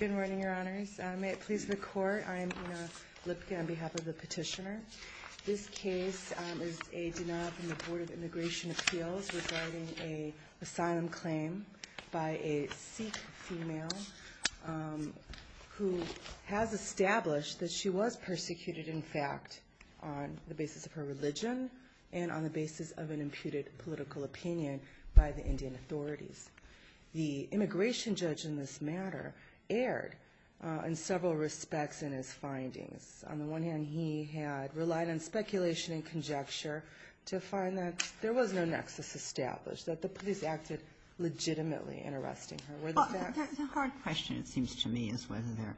Good morning, Your Honors. May it please the Court, I am Ina Lipkin on behalf of the petitioner. This case is a denial from the Board of Immigration Appeals regarding an asylum claim by a Sikh female who has established that she was persecuted, in fact, on the basis of her religion and on the basis of an imputed political opinion by the Indian authorities. The immigration judge in this matter erred in several respects in his findings. On the one hand, he had relied on speculation and conjecture to find that there was no nexus established, that the police acted legitimately in arresting her. Were the facts? Well, the hard question, it seems to me, is whether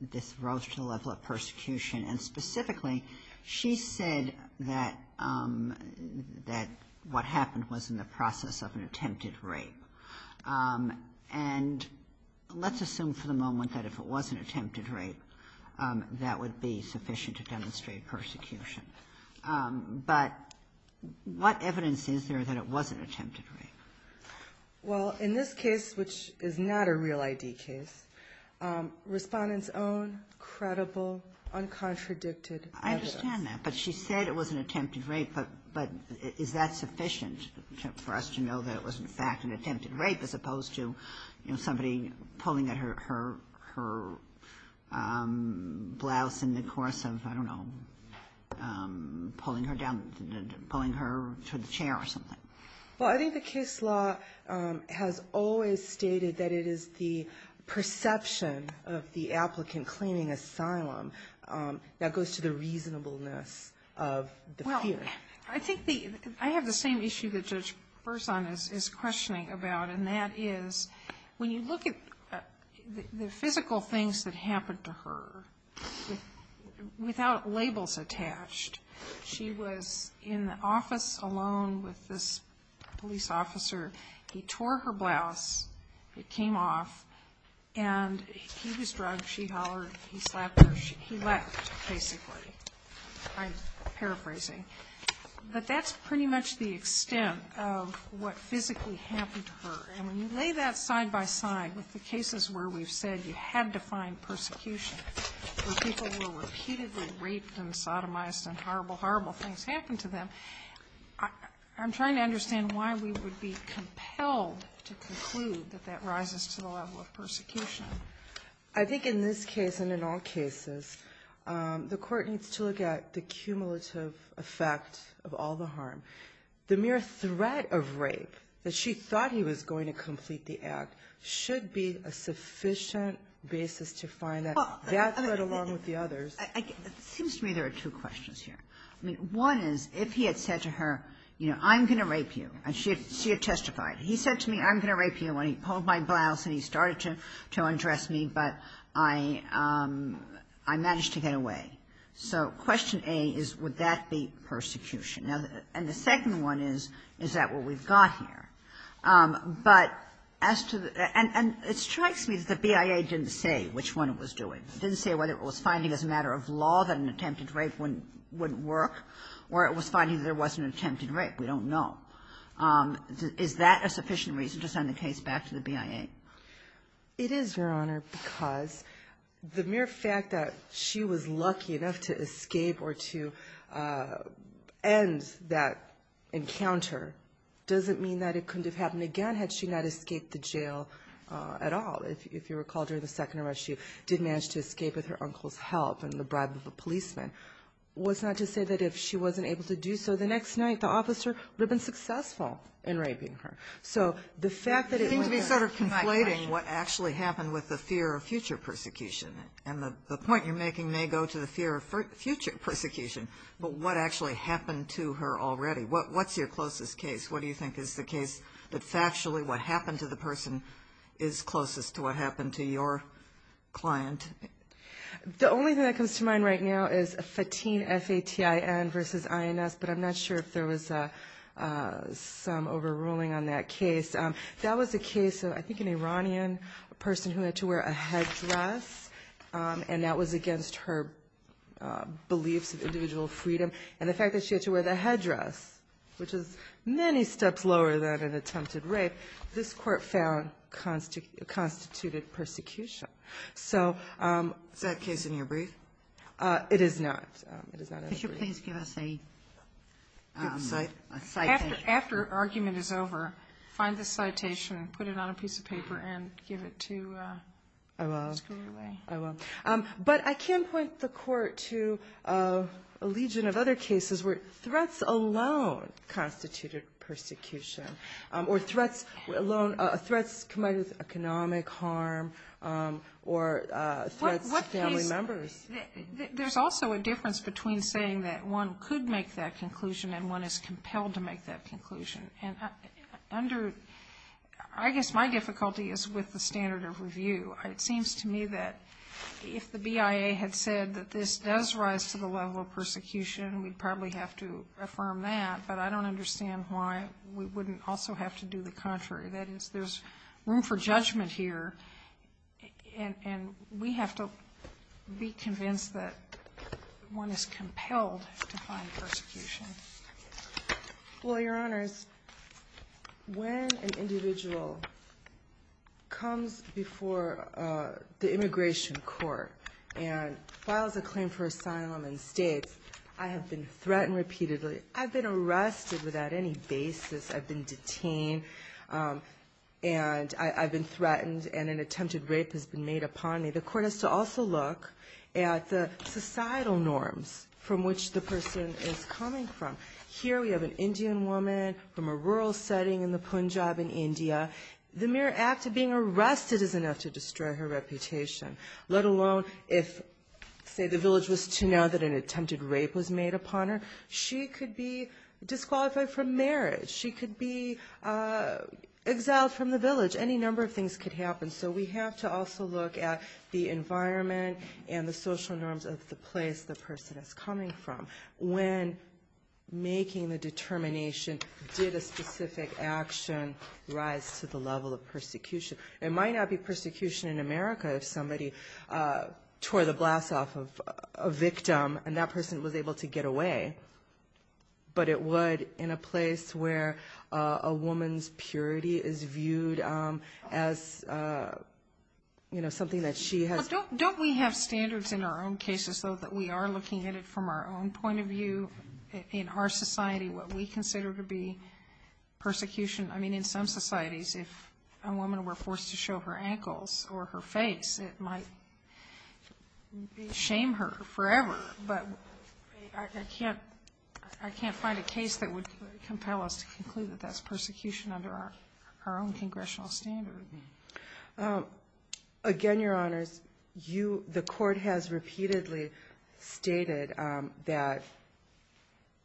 this rose to the level of persecution. And specifically, she said that what happened was in the process of an attempted rape. And let's assume for the moment that if it was an attempted rape, that would be sufficient to demonstrate persecution. But what evidence is there that it was an attempted rape? Well, in this case, which is not a real I.D. case, respondents own credible, uncontradicted evidence. I understand that. But she said it was an attempted rape. But is that sufficient for us to know that it was, in fact, an attempted rape as opposed to, you know, somebody pulling at her blouse in the course of, I don't know, pulling her down, pulling her to the chair or something? Well, I think the case law has always stated that it is the perception of the applicant claiming asylum that goes to the reasonableness of the fear. Well, I think the – I have the same issue that Judge Berzon is questioning about, and that is when you look at the physical things that happened to her, without labels attached, she was in the office alone with this police officer. He tore her blouse. It came off. And he was drugged. She hollered. He slapped her. He left, basically. I'm paraphrasing. But that's pretty much the extent of what physically happened to her. And when you lay that side by side with the cases where we've said you had to find persecution, where people were repeatedly raped and sodomized and horrible, horrible things happened to them, I'm trying to understand why we would be compelled to conclude that that rises to the level of persecution. I think in this case and in all cases, the Court needs to look at the cumulative effect of all the harm. The mere threat of rape that she thought he was going to complete the act should be a sufficient basis to find that threat along with the others. It seems to me there are two questions here. One is, if he had said to her, you know, I'm going to rape you, and she had testified. He said to me, I'm going to rape you, and he pulled my blouse and he started to undress me, but I managed to get away. So question A is, would that be persecution? And the second one is, is that what we've got here? But as to the – and it strikes me that the BIA didn't say which one it was doing. It didn't say whether it was finding as a matter of law that an attempted rape wouldn't work or it was finding there was an attempted rape. We don't know. Is that a sufficient reason to send the case back to the BIA? It is, Your Honor, because the mere fact that she was lucky enough to escape or to end that encounter doesn't mean that it couldn't have happened again had she not escaped the jail at all. If you recall, during the second arrest, she did manage to escape with her uncle's help and the bribe of a policeman. What's not to say that if she wasn't able to do so, the next night the officer would have been successful in raping her. So the fact that it – You seem to be sort of conflating what actually happened with the fear of future persecution. And the point you're making may go to the fear of future persecution, but what actually happened to her already? What's your closest case? What do you think is the case that factually what happened to the person is closest to what happened to your client? The only thing that comes to mind right now is Fatin, F-A-T-I-N, versus INS, but I'm not sure if there was some overruling on that case. That was a case of, I think, an Iranian person who had to wear a headdress, and that was against her beliefs of individual freedom. And the fact that she had to wear the headdress, which is many steps lower than an attempted rape, this Court found constituted persecution. So – Is that case in your brief? It is not. It is not in the brief. Could you please give us a – A sight? After argument is over, find the citation, put it on a piece of paper, and give it to – I will. Screw away. I will. But I can point the Court to a legion of other cases where threats alone constituted persecution, or threats alone – threats combined with economic harm or threats to family members. There's also a difference between saying that one could make that conclusion and one is compelled to make that conclusion. And under – I guess my difficulty is with the standard of review. It seems to me that if the BIA had said that this does rise to the level of persecution, we'd probably have to affirm that, but I don't understand why we wouldn't also have to do the contrary. That is, there's room for judgment here, and we have to be convinced that one is Well, Your Honors, when an individual comes before the immigration court and files a claim for asylum and states, I have been threatened repeatedly, I've been arrested without any basis, I've been detained, and I've been threatened, and an attempted rape has been made upon me, the Court has to also look at the societal norms from which the person is coming from. Here we have an Indian woman from a rural setting in the Punjab in India. The mere act of being arrested is enough to destroy her reputation, let alone if, say, the village was to know that an attempted rape was made upon her. She could be disqualified from marriage. She could be exiled from the village. Any number of things could happen. So we have to also look at the environment and the social norms of the place the person is coming from. When making the determination, did a specific action rise to the level of persecution? It might not be persecution in America if somebody tore the blast off of a victim and that person was able to get away, but it would in a place where a woman's purity is viewed as something that she has. Don't we have standards in our own cases, though, that we are looking at it from our own point of view in our society, what we consider to be persecution? I mean, in some societies, if a woman were forced to show her ankles or her face, it might shame her forever, but I can't find a case that would compel us to conclude that that's persecution under our own congressional standard. Again, Your Honors, the Court has repeatedly stated that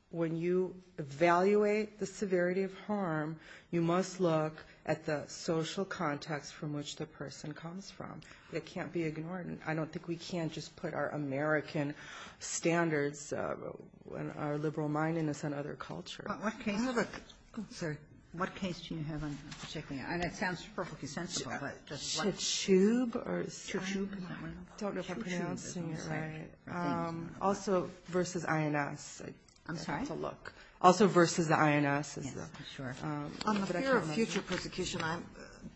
when you evaluate the severity of harm, you must look at the social context from which the person comes from. It can't be ignored, and I don't think we can just put our American standards and our liberal mindedness on other cultures. What case do you have in particular? And it sounds perfectly sensible, but does what? Chichoub? Chichoub? I don't know if I'm pronouncing it right. Also versus INS. I'm sorry? Also versus the INS. Yes, for sure. On the fear of future persecution, I'm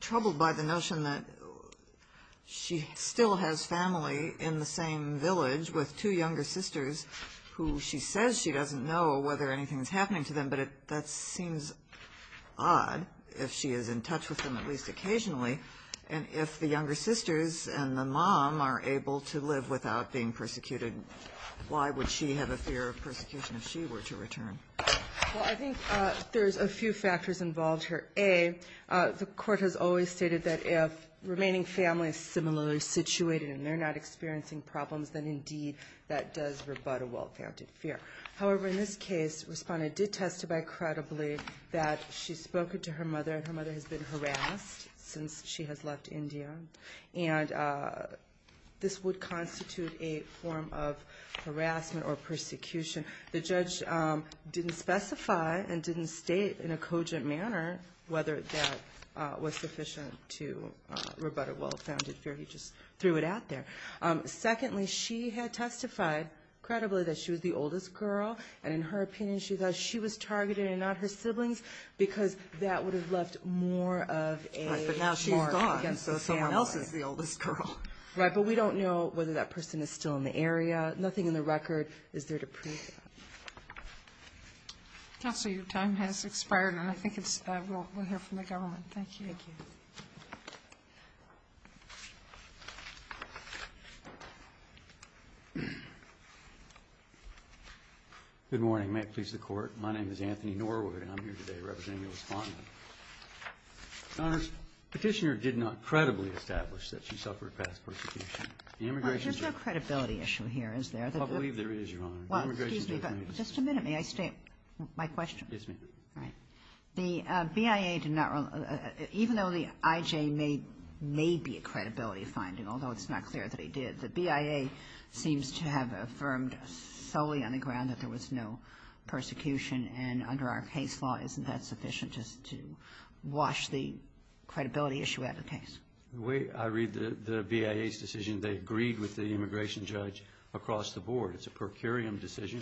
troubled by the notion that she still has family in the same village with two younger sisters who she says she doesn't know whether anything is happening to them, but that seems odd if she is in touch with them, at least occasionally. And if the younger sisters and the mom are able to live without being persecuted, why would she have a fear of persecution if she were to return? Well, I think there's a few factors involved here. A, the court has always stated that if remaining family is similarly situated and they're not experiencing problems, then indeed that does rebut a well-founded fear. However, in this case, a respondent did testify credibly that she spoke to her mother and her mother has been harassed since she has left India, and this would constitute a form of harassment or persecution. The judge didn't specify and didn't state in a cogent manner whether that was sufficient to rebut a well-founded fear. He just threw it out there. Secondly, she had testified credibly that she was the oldest girl, and in her opinion she thought she was targeted and not her siblings because that would have left more of a mark against the family. Right, but now she's gone, so someone else is the oldest girl. Nothing in the record is there to prove that. Counsel, your time has expired, and I think we'll hear from the government. Thank you. Thank you. Good morning. May it please the Court. My name is Anthony Norwood, and I'm here today representing the Respondent. Your Honor, the Petitioner did not credibly establish that she suffered past persecution. Your Honor, there's no credibility issue here, is there? I believe there is, Your Honor. Excuse me, but just a minute. May I state my question? Yes, ma'am. All right. The BIA did not, even though the IJ may be a credibility finding, although it's not clear that he did, the BIA seems to have affirmed solely on the ground that there was no persecution, and under our case law, isn't that sufficient just to wash the credibility issue out of the case? The way I read the BIA's decision, they agreed with the immigration judge across the board. It's a per curiam decision.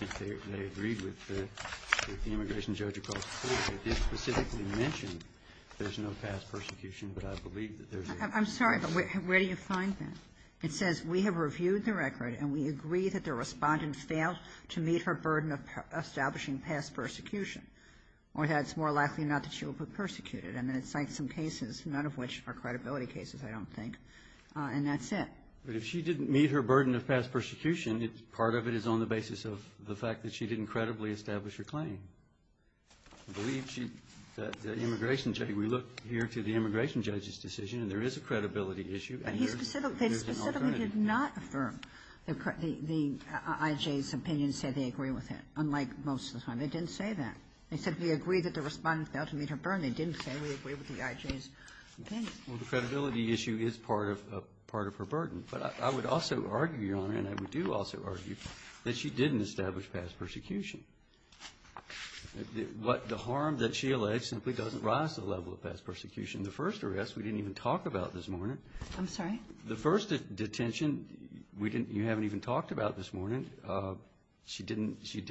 I think they agreed with the immigration judge across the board. They did specifically mention there's no past persecution, but I believe that there is. I'm sorry, but where do you find that? It says we have reviewed the record, and we agree that the Respondent failed to meet her burden of establishing past persecution, or that it's more likely not that she will be persecuted. I mean, it cites some cases, none of which are credibility cases, I don't think, and that's it. But if she didn't meet her burden of past persecution, part of it is on the basis of the fact that she didn't credibly establish her claim. I believe that the immigration judge, we look here to the immigration judge's decision, and there is a credibility issue, and there's an alternative. But they specifically did not affirm the IJ's opinion, say they agree with it, unlike most of the time. They didn't say that. They said we agree that the Respondent failed to meet her burden. They didn't say we agree with the IJ's opinion. Well, the credibility issue is part of her burden. But I would also argue, Your Honor, and I do also argue that she didn't establish past persecution. The harm that she alleged simply doesn't rise to the level of past persecution. The first arrest we didn't even talk about this morning. I'm sorry? The first detention we didn't, you haven't even talked about this morning. She didn't, she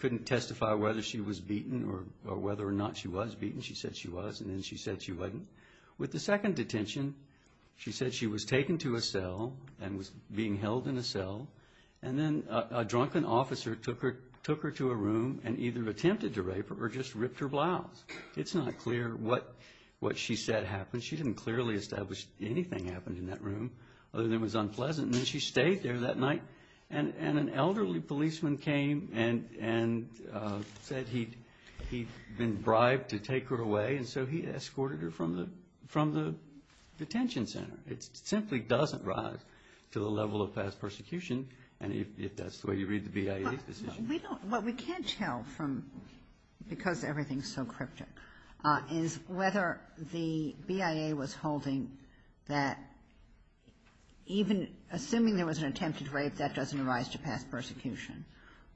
couldn't testify whether she was beaten or whether or not she was beaten. She said she was, and then she said she wasn't. With the second detention, she said she was taken to a cell and was being held in a cell, and then a drunken officer took her to a room and either attempted to rape her or just ripped her blouse. It's not clear what she said happened. She didn't clearly establish anything happened in that room other than it was unpleasant. And then she stayed there that night, and an elderly policeman came and said he'd been bribed to take her away, and so he escorted her from the detention center. It simply doesn't rise to the level of past persecution, and if that's the way you read the BIA's decision. But we don't, what we can't tell from, because everything's so cryptic, is whether the BIA was holding that even assuming there was an attempted rape, that doesn't arise to past persecution,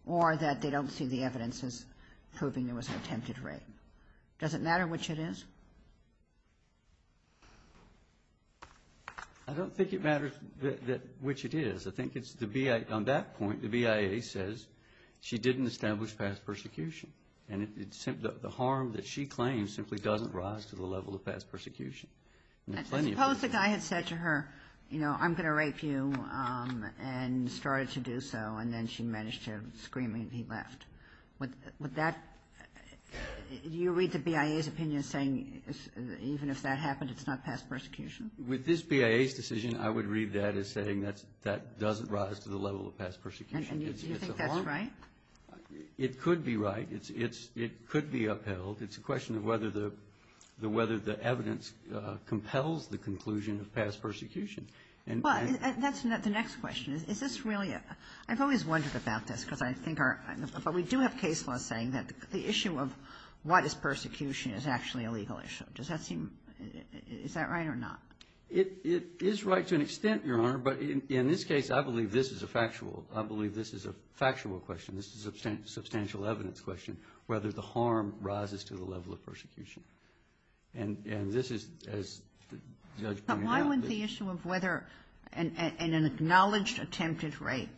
or that they don't see the evidence as proving there was an attempted rape. Does it matter which it is? I don't think it matters which it is. I think it's the BIA, on that point, the BIA says she didn't establish past persecution, and the harm that she claims simply doesn't rise to the level of past persecution. And plenty of people do. Suppose the guy had said to her, you know, I'm going to rape you, and started to do so, and then she managed to scream and he left. Would that, do you read the BIA's opinion as saying even if that happened, it's not past persecution? With this BIA's decision, I would read that as saying that doesn't rise to the level of past persecution. And do you think that's right? It could be right. It could be upheld. It's a question of whether the evidence compels the conclusion of past persecution. And that's the next question. Is this really, I've always wondered about this, because I think our, but we do have case laws saying that the issue of what is persecution is actually a legal issue. Does that seem, is that right or not? It is right to an extent, Your Honor, but in this case, I believe this is a factual, I believe this is a factual question. This is a substantial evidence question, whether the harm rises to the level of persecution. And this is, as the judge pointed out. But why wouldn't the issue of whether an acknowledged attempted rape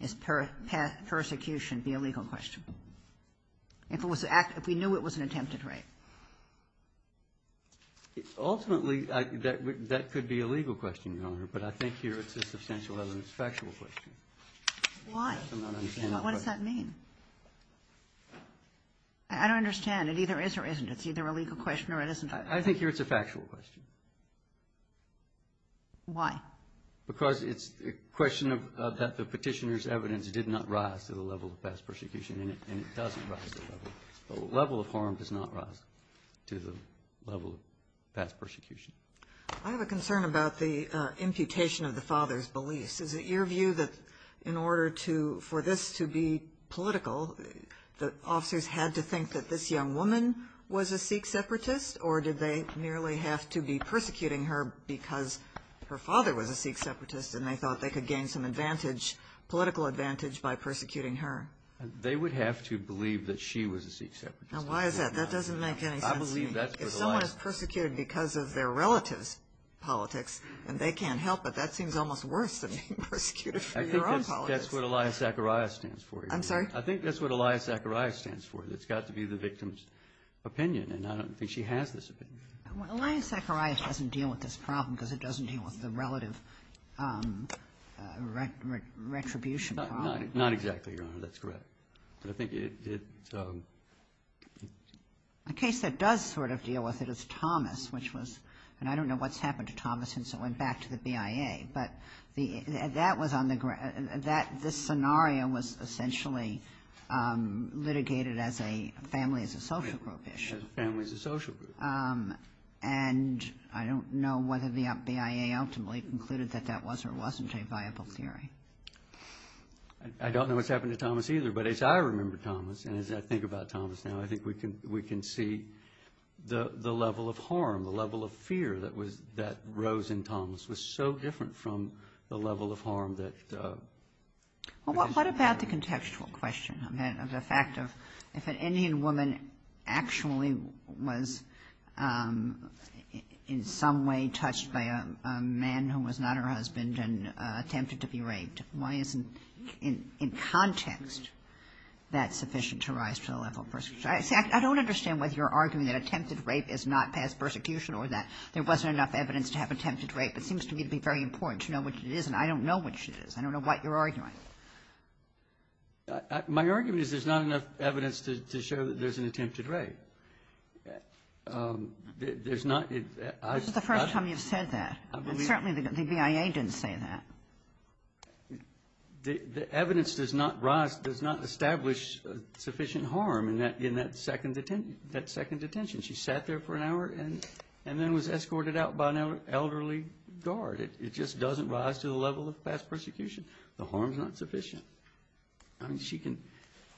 is persecution be a legal question? If it was, if we knew it was an attempted rape. Ultimately, that could be a legal question, Your Honor, but I think here it's a substantial evidence factual question. Why? What does that mean? I don't understand. It either is or isn't. It's either a legal question or it isn't. I think here it's a factual question. Why? Because it's a question of that the Petitioner's evidence did not rise to the level of past persecution, and it doesn't rise to the level. The level of harm does not rise to the level of past persecution. I have a concern about the imputation of the father's beliefs. Is it your view that in order to, for this to be political, the officers had to think that this young woman was a Sikh separatist, or did they merely have to be persecuting her because her father was a Sikh separatist and they thought they could gain some advantage, political advantage, by persecuting her? They would have to believe that she was a Sikh separatist. Now, why is that? That doesn't make any sense to me. I believe that's where the line is. If someone is persecuted because of their relative's politics and they can't help it, that seems almost worse than being persecuted for your own politics. I think that's what Aliyah Zacharias stands for, Your Honor. I'm sorry? I think that's what Aliyah Zacharias stands for. It's got to be the victim's opinion, and I don't think she has this opinion. Well, Aliyah Zacharias doesn't deal with this problem because it doesn't deal with the relative retribution problem. Not exactly, Your Honor. That's correct. But I think it's a... A case that does sort of deal with it is Thomas, which was, and I don't know what's happened to Thomas since it went back to the BIA, but that was on the... This scenario was essentially litigated as a family as a social group issue. Family as a social group. And I don't know whether the BIA ultimately concluded that that was or wasn't a viable theory. I don't know what's happened to Thomas either, but as I remember Thomas and as I think about fear that rose in Thomas was so different from the level of harm that... Well, what about the contextual question of the fact of if an Indian woman actually was in some way touched by a man who was not her husband and attempted to be raped, why isn't in context that sufficient to rise to the level of persecution? See, I don't understand whether you're arguing that attempted rape is not past persecution or that there wasn't enough evidence to have attempted rape. It seems to me to be very important to know what it is, and I don't know what it is. I don't know what you're arguing. My argument is there's not enough evidence to show that there's an attempted rape. There's not... This is the first time you've said that. Certainly the BIA didn't say that. The evidence does not establish sufficient harm in that second detention. She sat there for an hour and then was escorted out by an elderly guard. It just doesn't rise to the level of past persecution. The harm's not sufficient.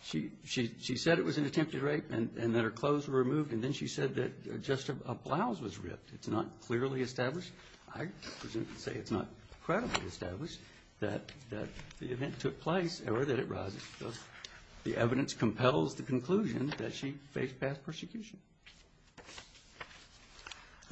She said it was an attempted rape and that her clothes were removed, and then she said that just a blouse was ripped. It's not clearly established. I would say it's not credibly established that the event took place or that it arises because the evidence compels the conclusion that she faced past persecution.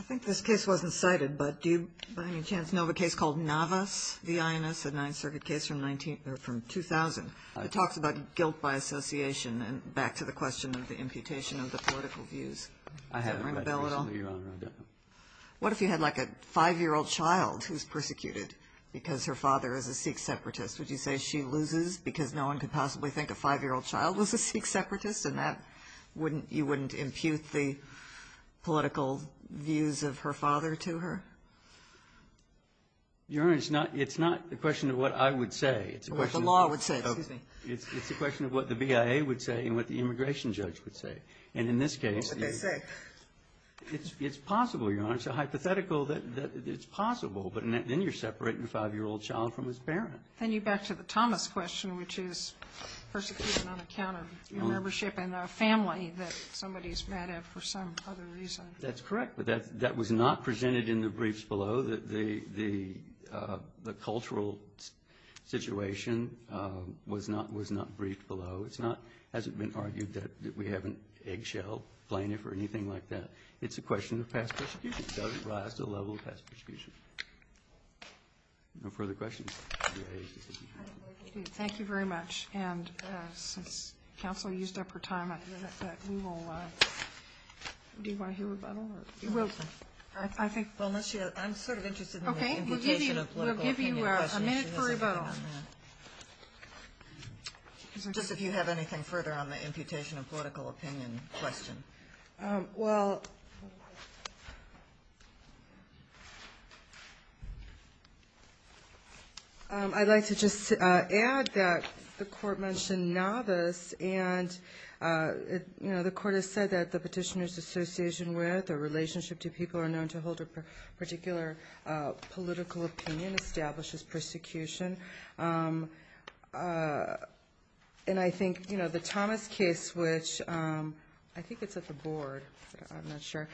I think this case wasn't cited, but do you, by any chance, know of a case called Navas v. Ionis, a Ninth Circuit case from 2000? It talks about guilt by association and back to the question of the imputation of the political views. I haven't read that case, Your Honor. I don't know. What if you had, like, a 5-year-old child who's persecuted because her father is a Sikh separatist? Would you say she loses because no one could possibly think a 5-year-old child was a Sikh separatist and that you wouldn't impute the political views of her father to her? Your Honor, it's not the question of what I would say. It's a question of what the law would say. Excuse me. It's a question of what the BIA would say and what the immigration judge would say. And in this case the What would they say? It's possible, Your Honor. It's a hypothetical that it's possible. But then you're separating a 5-year-old child from his parent. Then you're back to the Thomas question, which is persecution on account of membership in a family that somebody is mad at for some other reason. That's correct. But that was not presented in the briefs below. The cultural situation was not briefed below. It hasn't been argued that we have an eggshell plaintiff or anything like that. It's a question of past persecution. It does rise to the level of past persecution. No further questions? Thank you very much. And since counsel used up her time, we will do you want to hear rebuttal? I'm sort of interested in the implication of political opinion. We'll give you a minute for rebuttal. Just if you have anything further on the imputation of political opinion question. Well, I'd like to just add that the Court mentioned novice. And, you know, the Court has said that the petitioner's association with or relationship to people are known to hold a particular political opinion and establishes persecution. And I think, you know, the Thomas case, which I think it's at the Board. I'm not sure.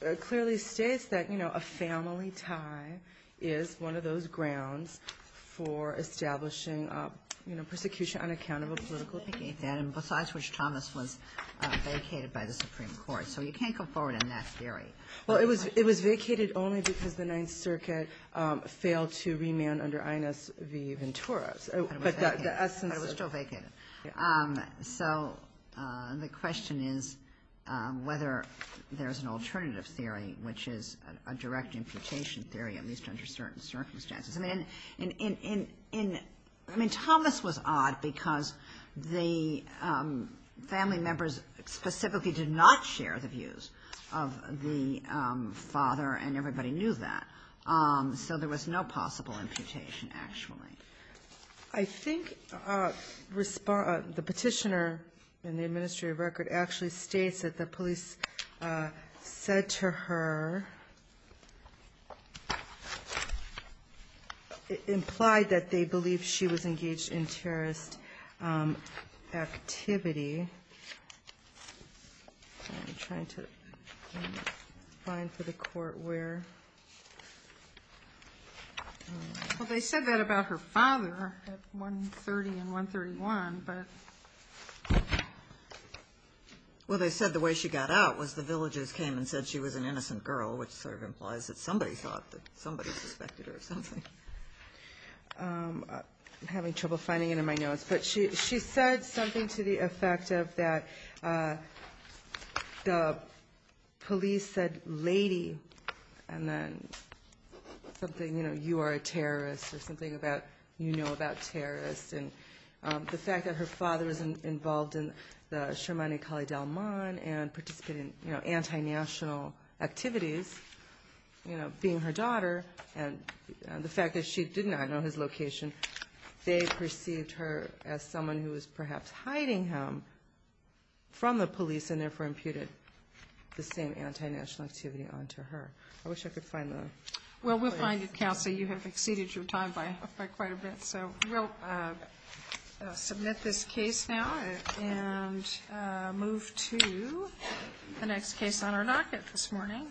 It clearly states that, you know, a family tie is one of those grounds for establishing, you know, persecution on account of a political opinion. Besides which, Thomas was vacated by the Supreme Court. So you can't go forward in that theory. Well, it was vacated only because the Ninth Circuit failed to remand under INS v. Ventura. But it was still vacated. So the question is whether there's an alternative theory, which is a direct imputation theory, at least under certain circumstances. I mean, Thomas was odd because the family members specifically did not share the views of the father, and everybody knew that. So there was no possible imputation, actually. I think the petitioner in the administrative record actually states that the police said to her, implied that they believed she was engaged in terrorist activity. I'm trying to find for the court where. Well, they said that about her father at 130 and 131, but. Well, they said the way she got out was the villagers came and said she was an innocent girl, which sort of implies that somebody thought that somebody suspected her of something. I'm having trouble finding it in my notes. But she said something to the effect of that the police said, lady, and then something, you know, you are a terrorist or something about you know about terrorists. And the fact that her father was involved in the Sharmani Kali Dalman and participated in, you know, anti-national activities, you know, being her daughter, and the fact that she did not know his location, they perceived her as someone who was perhaps hiding him from the police and therefore imputed the same anti-national activity onto her. I wish I could find the. Well, we'll find it, counsel. You have exceeded your time by quite a bit. So we'll submit this case now and move to the next case on our nocket this morning.